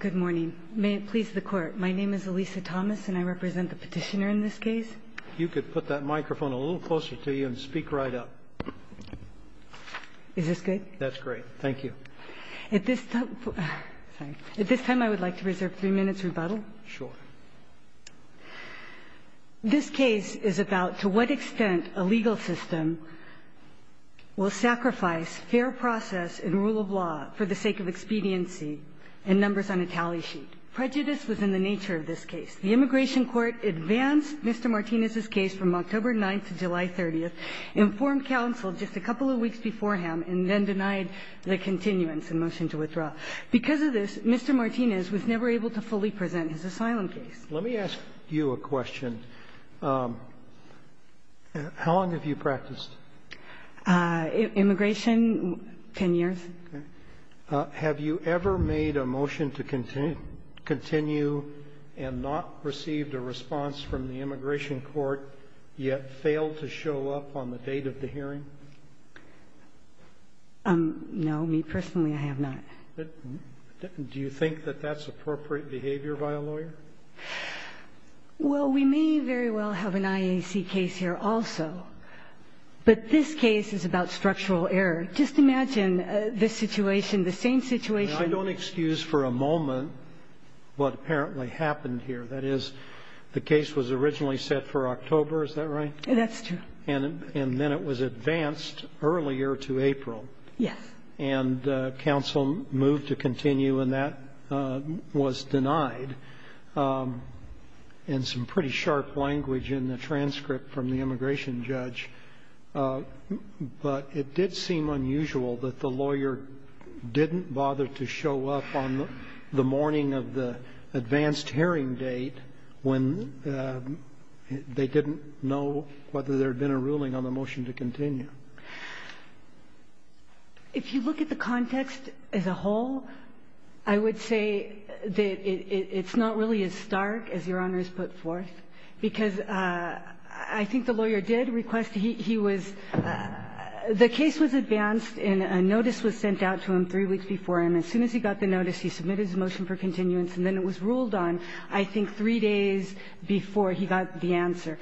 Good morning. May it please the Court, my name is Elisa Thomas and I represent the petitioner in this case. You could put that microphone a little closer to you and speak right up. Is this good? That's great. Thank you. At this time I would like to reserve three minutes rebuttal. Sure. This case is about to what extent a legal system will sacrifice fair process and rule of law for the sake of expediency and numbers on a tally sheet. Prejudice was in the nature of this case. The immigration court advanced Mr. Martinez's case from October 9th to July 30th, informed counsel just a couple of weeks beforehand, and then denied the continuance in motion to withdraw. Because of this, Mr. Martinez was never able to fully present his asylum case. Let me ask you a question. How long have you practiced? Immigration, 10 years. Okay. Have you ever made a motion to continue and not received a response from the immigration court, yet failed to show up on the date of the hearing? No. Me personally, I have not. Do you think that that's appropriate behavior by a lawyer? Well, we may very well have an IAC case here also, but this case is about structural error. Just imagine the situation, the same situation. I don't excuse for a moment what apparently happened here. That is, the case was originally set for October, is that right? That's true. And then it was advanced earlier to April. Yes. And counsel moved to continue, and that was denied in some pretty sharp language in the transcript from the immigration judge, but it did seem unusual that the lawyer didn't bother to show up on the morning of the advanced hearing date when they didn't know whether there had been a ruling on the motion to continue. If you look at the context as a whole, I would say that it's not really as stark as Your Honor has put forth, because I think the lawyer did request he was – the case was advanced and a notice was sent out to him three weeks before, and as soon as he got the notice, he submitted his motion for continuance, and then it was ruled on, I think, three days before he got the answer.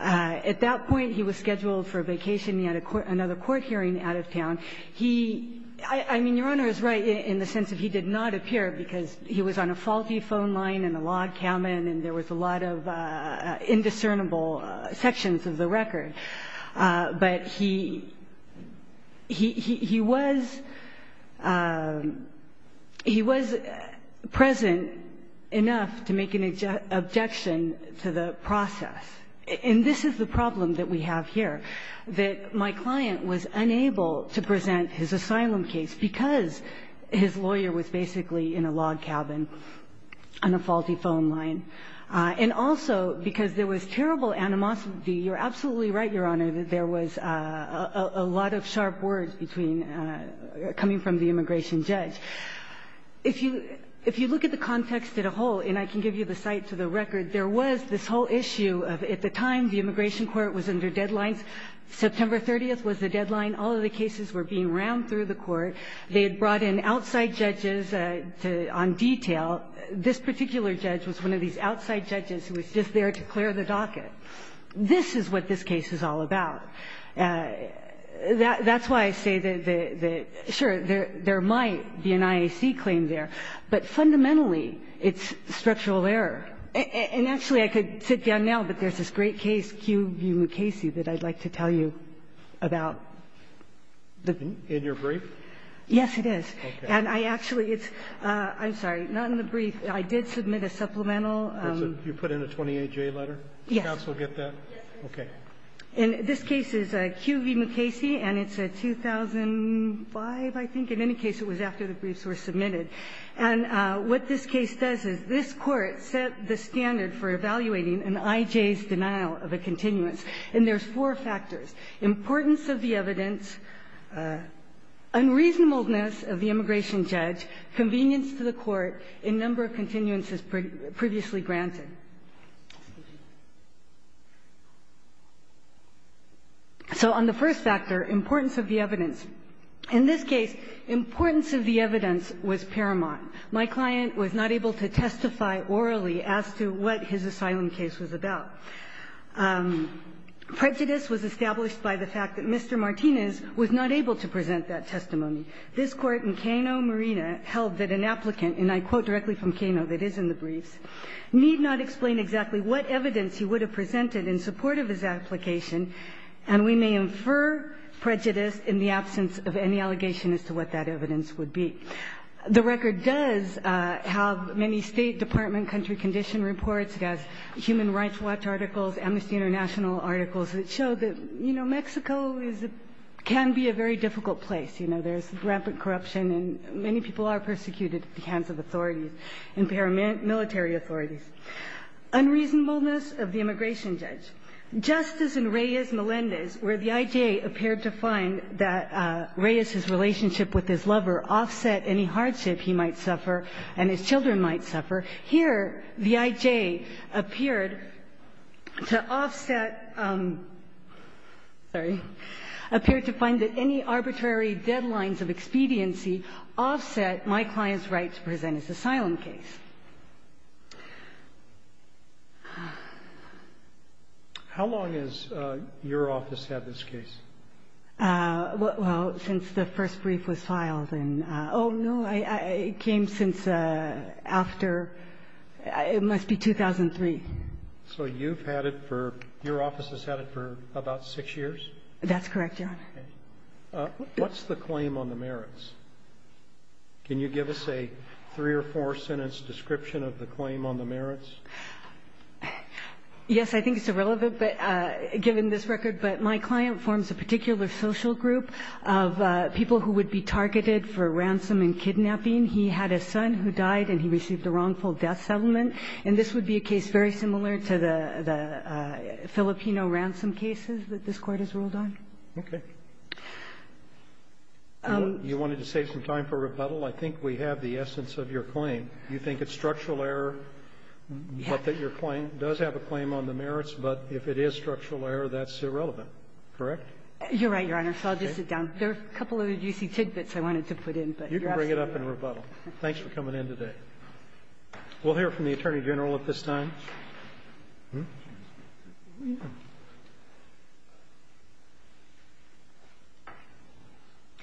At that point, he was scheduled for a vacation. He had another court hearing out of town. He – I mean, Your Honor is right in the sense that he did not appear because he was on a faulty phone line and a log cabin and there was a lot of indiscernible sections of the record, but he was – he was present enough to make an objection to the process. And this is the problem that we have here, that my client was unable to present his asylum case because his lawyer was basically in a log cabin on a faulty phone line, and also because there was terrible animosity. You're absolutely right, Your Honor, that there was a lot of sharp words between – coming from the immigration judge. If you – if you look at the context as a whole – and I can give you the site to the record – there was this whole issue of, at the time, the immigration court was under deadlines. September 30th was the deadline. All of the cases were being rammed through the court. They had brought in outside judges on detail. This particular judge was one of these outside judges who was just there to clear the docket. This is what this case is all about. That's why I say that the – sure, there might be an IAC claim there, but fundamentally it's structural error. And actually, I could sit down now, but there's this great case, Q. B. Mukasey, that I'd like to tell you about. In your brief? Yes, it is. Okay. And I actually – it's – I'm sorry, not in the brief. I did submit a supplemental. You put in a 28-J letter? Yes. Does counsel get that? Yes. Okay. And this case is Q. B. Mukasey, and it's a 2005, I think. In any case, it was after the briefs were submitted. And what this case does is this Court set the standard for evaluating an I.J.'s denial of a continuance. And there's four factors. Importance of the evidence, unreasonableness of the immigration judge, convenience to the Court in number of continuances previously granted. So on the first factor, importance of the evidence. In this case, importance of the evidence was paramount. My client was not able to testify orally as to what his asylum case was about. Prejudice was established by the fact that Mr. Martinez was not able to present This Court in Cano, Marina, held that an applicant – and I quote directly from Cano that is in the briefs – need not explain exactly what evidence he would have presented in support of his application, and we may infer prejudice in the absence of any allegation as to what that evidence would be. The record does have many State Department country condition reports. It has Human Rights Watch articles, Amnesty International articles that show that, you know, Mexico is a – can be a very difficult place. You know, there's rampant corruption and many people are persecuted at the hands of authorities, military authorities. Unreasonableness of the immigration judge. Just as in Reyes-Melendez, where the I.J. appeared to find that Reyes's relationship with his lover offset any hardship he might suffer and his children might suffer, here the I.J. appeared to offset – sorry – appeared to find that any arbitrary deadlines of expediency offset my client's right to present his asylum case. How long has your office had this case? Well, since the first brief was filed in – oh, no, it came since after – it must be 2003. So you've had it for – your office has had it for about six years? That's correct, Your Honor. Okay. What's the claim on the merits? Can you give us a three- or four-sentence description of the claim on the merits? Yes, I think it's irrelevant, but – given this record. But my client forms a particular social group of people who would be targeted for ransom and kidnapping. He had a son who died and he received a wrongful death settlement. And this would be a case very similar to the Filipino ransom cases that this Court has ruled on. Okay. You wanted to save some time for rebuttal? I think we have the essence of your claim. You think it's structural error, but that your claim does have a claim on the merits, but if it is structural error, that's irrelevant, correct? You're right, Your Honor. So I'll just sit down. There are a couple of juicy tidbits I wanted to put in, but you're absolutely up for rebuttal. Thanks for coming in today. We'll hear from the Attorney General at this time.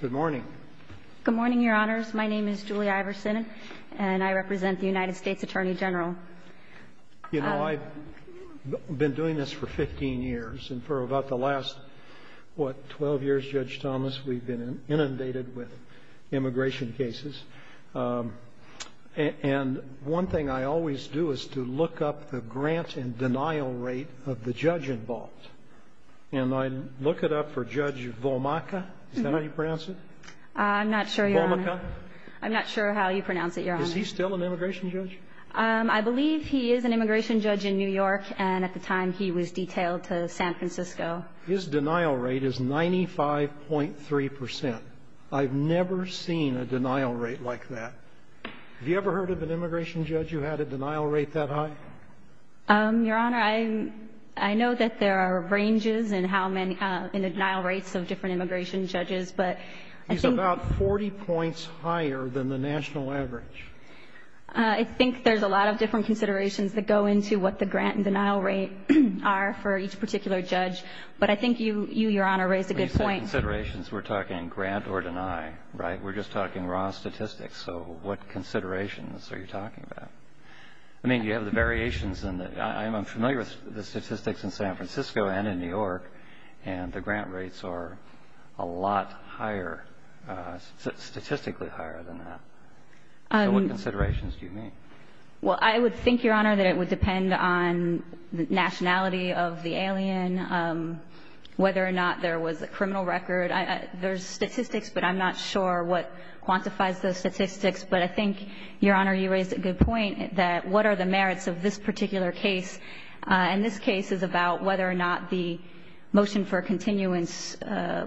Good morning. Good morning, Your Honors. My name is Julie Iverson, and I represent the United States Attorney General. You know, I've been doing this for 15 years, and for about the last, what, 12 years, Judge Thomas, we've been inundated with immigration cases. And one thing I always do is to look up the grant and denial rate of the judge involved. And I look it up for Judge Vomaca. Is that how you pronounce it? I'm not sure, Your Honor. Vomaca? I'm not sure how you pronounce it, Your Honor. Is he still an immigration judge? I believe he is an immigration judge in New York, and at the time he was detailed to San Francisco. His denial rate is 95.3 percent. I've never seen a denial rate like that. Have you ever heard of an immigration judge who had a denial rate that high? Your Honor, I know that there are ranges in how many — in the denial rates of different immigration judges, but I think — He's about 40 points higher than the national average. I think there's a lot of different considerations that go into what the grant and denial rate are for each particular judge. But I think you, Your Honor, raised a good point. When you say considerations, we're talking grant or deny, right? We're just talking raw statistics. So what considerations are you talking about? I mean, you have the variations in the — I'm familiar with the statistics in San Francisco and in New York, and the grant rates are a lot higher — statistically higher than that. So what considerations do you mean? Well, I would think, Your Honor, that it would depend on the nationality of the alien, whether or not there was a criminal record. There's statistics, but I'm not sure what quantifies those statistics. But I think, Your Honor, you raised a good point that what are the merits of this particular case. And this case is about whether or not the motion for continuance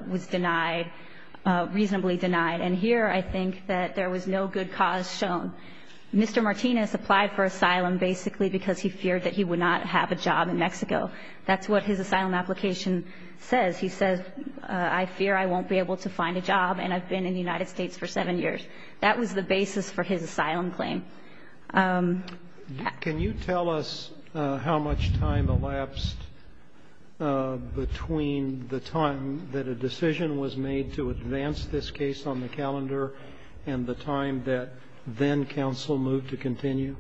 was denied — reasonably denied. And here, I think that there was no good cause shown. Mr. Martinez applied for asylum basically because he feared that he would not have a job in Mexico. That's what his asylum application says. He says, I fear I won't be able to find a job, and I've been in the United States for seven years. That was the basis for his asylum claim. Can you tell us how much time elapsed between the time that a decision was made to then-counsel move to continue?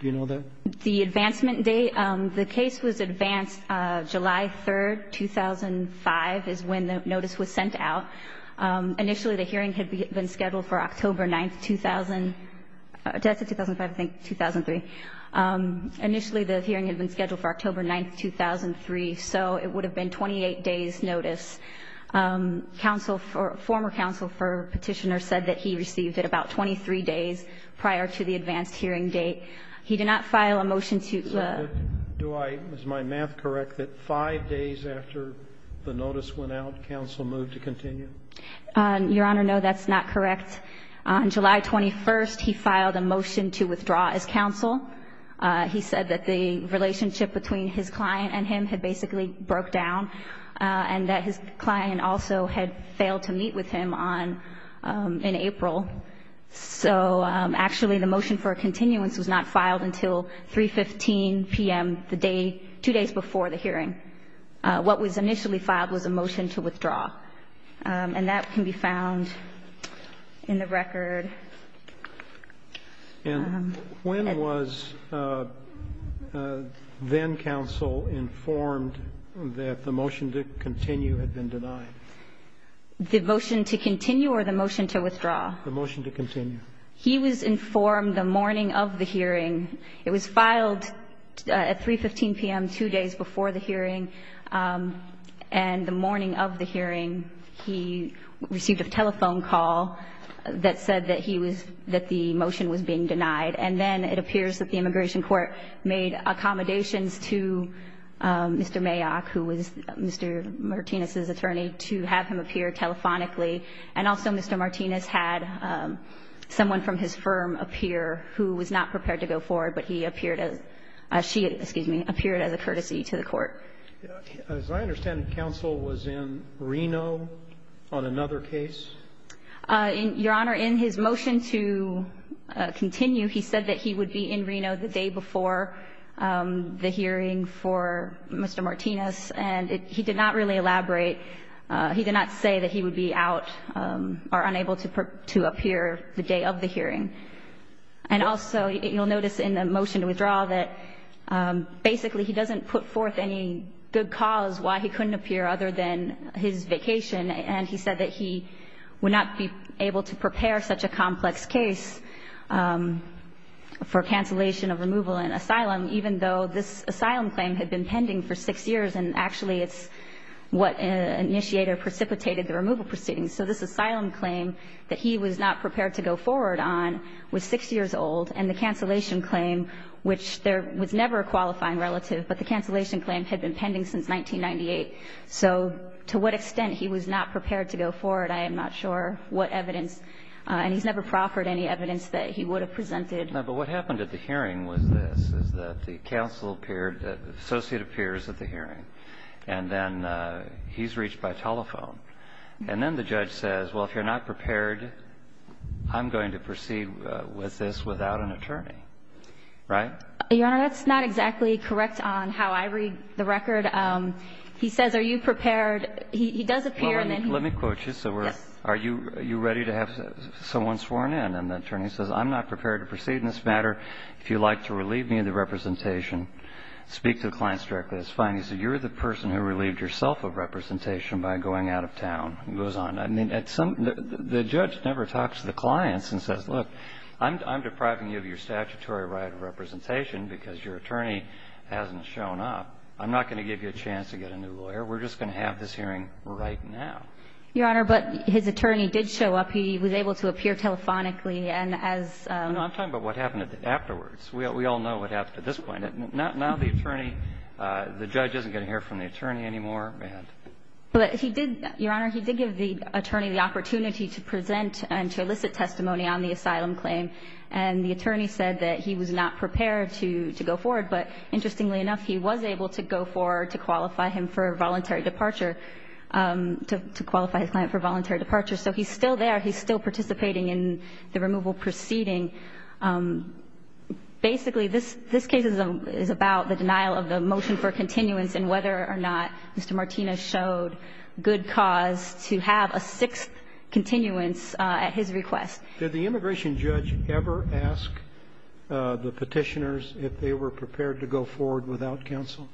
Do you know that? The advancement date — the case was advanced July 3, 2005, is when the notice was sent out. Initially, the hearing had been scheduled for October 9, 2000 — 2005, I think, 2003. Initially, the hearing had been scheduled for October 9, 2003, so it would have been 28 days' notice. Counsel for — former counsel for Petitioner said that he received it about 23 days prior to the advanced hearing date. He did not file a motion to — So do I — is my math correct that five days after the notice went out, counsel moved to continue? Your Honor, no, that's not correct. On July 21st, he filed a motion to withdraw as counsel. He said that the relationship between his client and him had basically broken down and that his client also had failed to meet with him on — in April. So, actually, the motion for a continuance was not filed until 3.15 p.m., the day — two days before the hearing. What was initially filed was a motion to withdraw. And that can be found in the record. And when was then-counsel informed that the motion to continue had been denied? The motion to continue or the motion to withdraw? The motion to continue. He was informed the morning of the hearing. It was filed at 3.15 p.m., two days before the hearing. And the morning of the hearing, he received a telephone call that said that he was — that the motion was being denied. And then it appears that the immigration court made accommodations to Mr. Mayock, who was Mr. Martinez's attorney, to have him appear telephonically. And also Mr. Martinez had someone from his firm appear who was not prepared to go forward, but he appeared as — she, excuse me, appeared as a courtesy to the court. As I understand, counsel was in Reno on another case? Your Honor, in his motion to continue, he said that he would be in Reno the day before the hearing for Mr. Martinez. And he did not really elaborate. He did not say that he would be out or unable to appear the day of the hearing. And also you'll notice in the motion to withdraw that basically he doesn't put forth any good cause why he couldn't appear other than his vacation. And he said that he would not be able to prepare such a complex case for cancellation of removal and asylum, even though this asylum claim had been pending for six years and actually it's what initiated or precipitated the removal proceedings. So this asylum claim that he was not prepared to go forward on was six years old. And the cancellation claim, which there was never a qualifying relative, but the I am not sure what evidence. And he's never proffered any evidence that he would have presented. But what happened at the hearing was this, is that the counsel appeared, the associate appears at the hearing. And then he's reached by telephone. And then the judge says, well, if you're not prepared, I'm going to proceed with this without an attorney. Right? Your Honor, that's not exactly correct on how I read the record. He says, are you prepared? He does appear. Let me quote you. Are you ready to have someone sworn in? And the attorney says, I'm not prepared to proceed in this matter. If you'd like to relieve me of the representation, speak to the clients directly. That's fine. He said, you're the person who relieved yourself of representation by going out of town. He goes on. I mean, the judge never talks to the clients and says, look, I'm depriving you of your statutory right of representation because your attorney hasn't shown up. I'm not going to give you a chance to get a new lawyer. We're just going to have this hearing right now. Your Honor, but his attorney did show up. He was able to appear telephonically. And as ---- I'm talking about what happened afterwards. We all know what happened at this point. Now the attorney, the judge isn't going to hear from the attorney anymore. But he did, Your Honor, he did give the attorney the opportunity to present and to elicit testimony on the asylum claim. And the attorney said that he was not prepared to go forward. But interestingly enough, he was able to go forward to qualify him for voluntary departure, to qualify his client for voluntary departure. So he's still there. He's still participating in the removal proceeding. Basically, this case is about the denial of the motion for continuance and whether or not Mr. Martinez showed good cause to have a sixth continuance at his request. Did the immigration judge ever ask the Petitioners if they were prepared to go forward without counsel?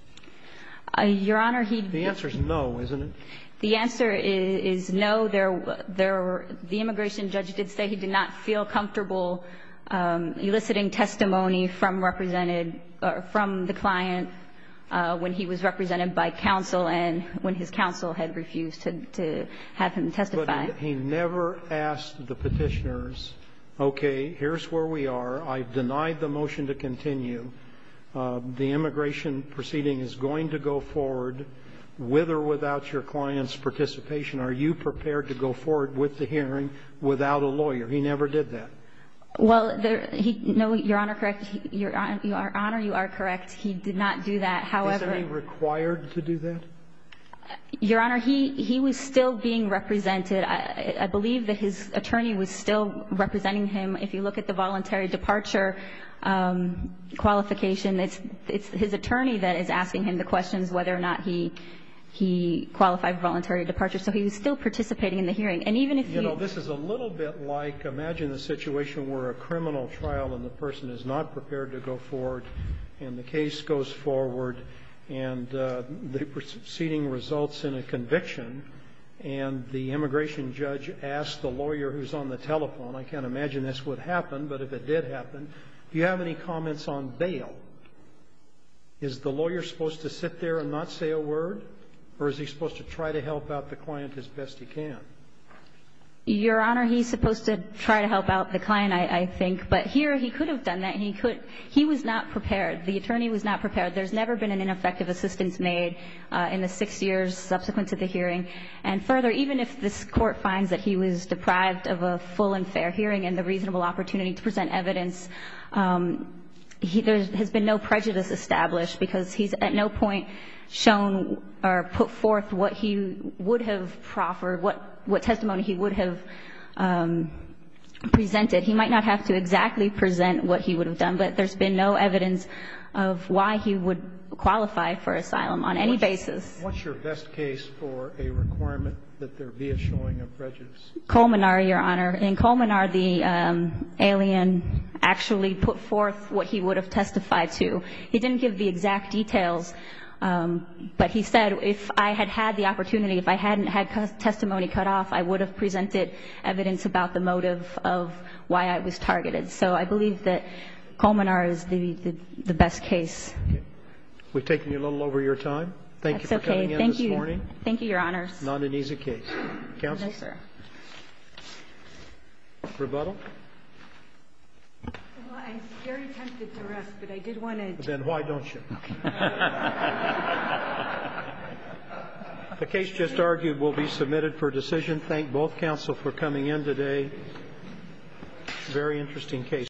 Your Honor, he'd been ---- The answer is no, isn't it? The answer is no. There were the immigration judge did say he did not feel comfortable eliciting testimony from represented or from the client when he was represented by counsel and when his counsel had refused to have him testify. But he never asked the Petitioners, okay, here's where we are. I've denied the motion to continue. The immigration proceeding is going to go forward with or without your client's participation. Are you prepared to go forward with the hearing without a lawyer? He never did that. Well, he ---- No, Your Honor, correct. Your Honor, you are correct. He did not do that. However ---- Is he required to do that? Your Honor, he was still being represented. I believe that his attorney was still representing him. If you look at the voluntary departure qualification, it's his attorney that is asking him the questions whether or not he qualified voluntary departure. So he was still participating in the hearing. And even if he ---- You know, this is a little bit like imagine a situation where a criminal trial and the person is not prepared to go forward and the case goes forward and the proceeding results in a conviction and the immigration judge asks the lawyer who's on the telephone ---- I can't imagine this would happen, but if it did happen, do you have any comments on bail? Is the lawyer supposed to sit there and not say a word, or is he supposed to try to help out the client as best he can? Your Honor, he's supposed to try to help out the client, I think. But here he could have done that. He could ---- he was not prepared. The attorney was not prepared. There's never been an ineffective assistance made in the six years subsequent to the hearing. And further, even if this Court finds that he was deprived of a full and fair hearing and the reasonable opportunity to present evidence, there has been no prejudice established because he's at no point shown or put forth what he would have proffered, what testimony he would have presented. He might not have to exactly present what he would have done, but there's been no evidence of why he would qualify for asylum on any basis. What's your best case for a requirement that there be a showing of prejudice? Colmenar, Your Honor. In Colmenar, the alien actually put forth what he would have testified to. He didn't give the exact details, but he said if I had had the opportunity, if I hadn't had testimony cut off, I would have presented evidence about the motive of why I was targeted. So I believe that Colmenar is the best case. Thank you. We've taken you a little over your time. That's okay. Thank you. Thank you for coming in this morning. Thank you, Your Honors. Not an easy case. Counsel? No, sir. Rebuttal? Well, I'm very tempted to rest, but I did want to ---- Then why don't you? Okay. The case just argued will be submitted for decision. I want to then thank both counsel for coming in today. Very interesting case.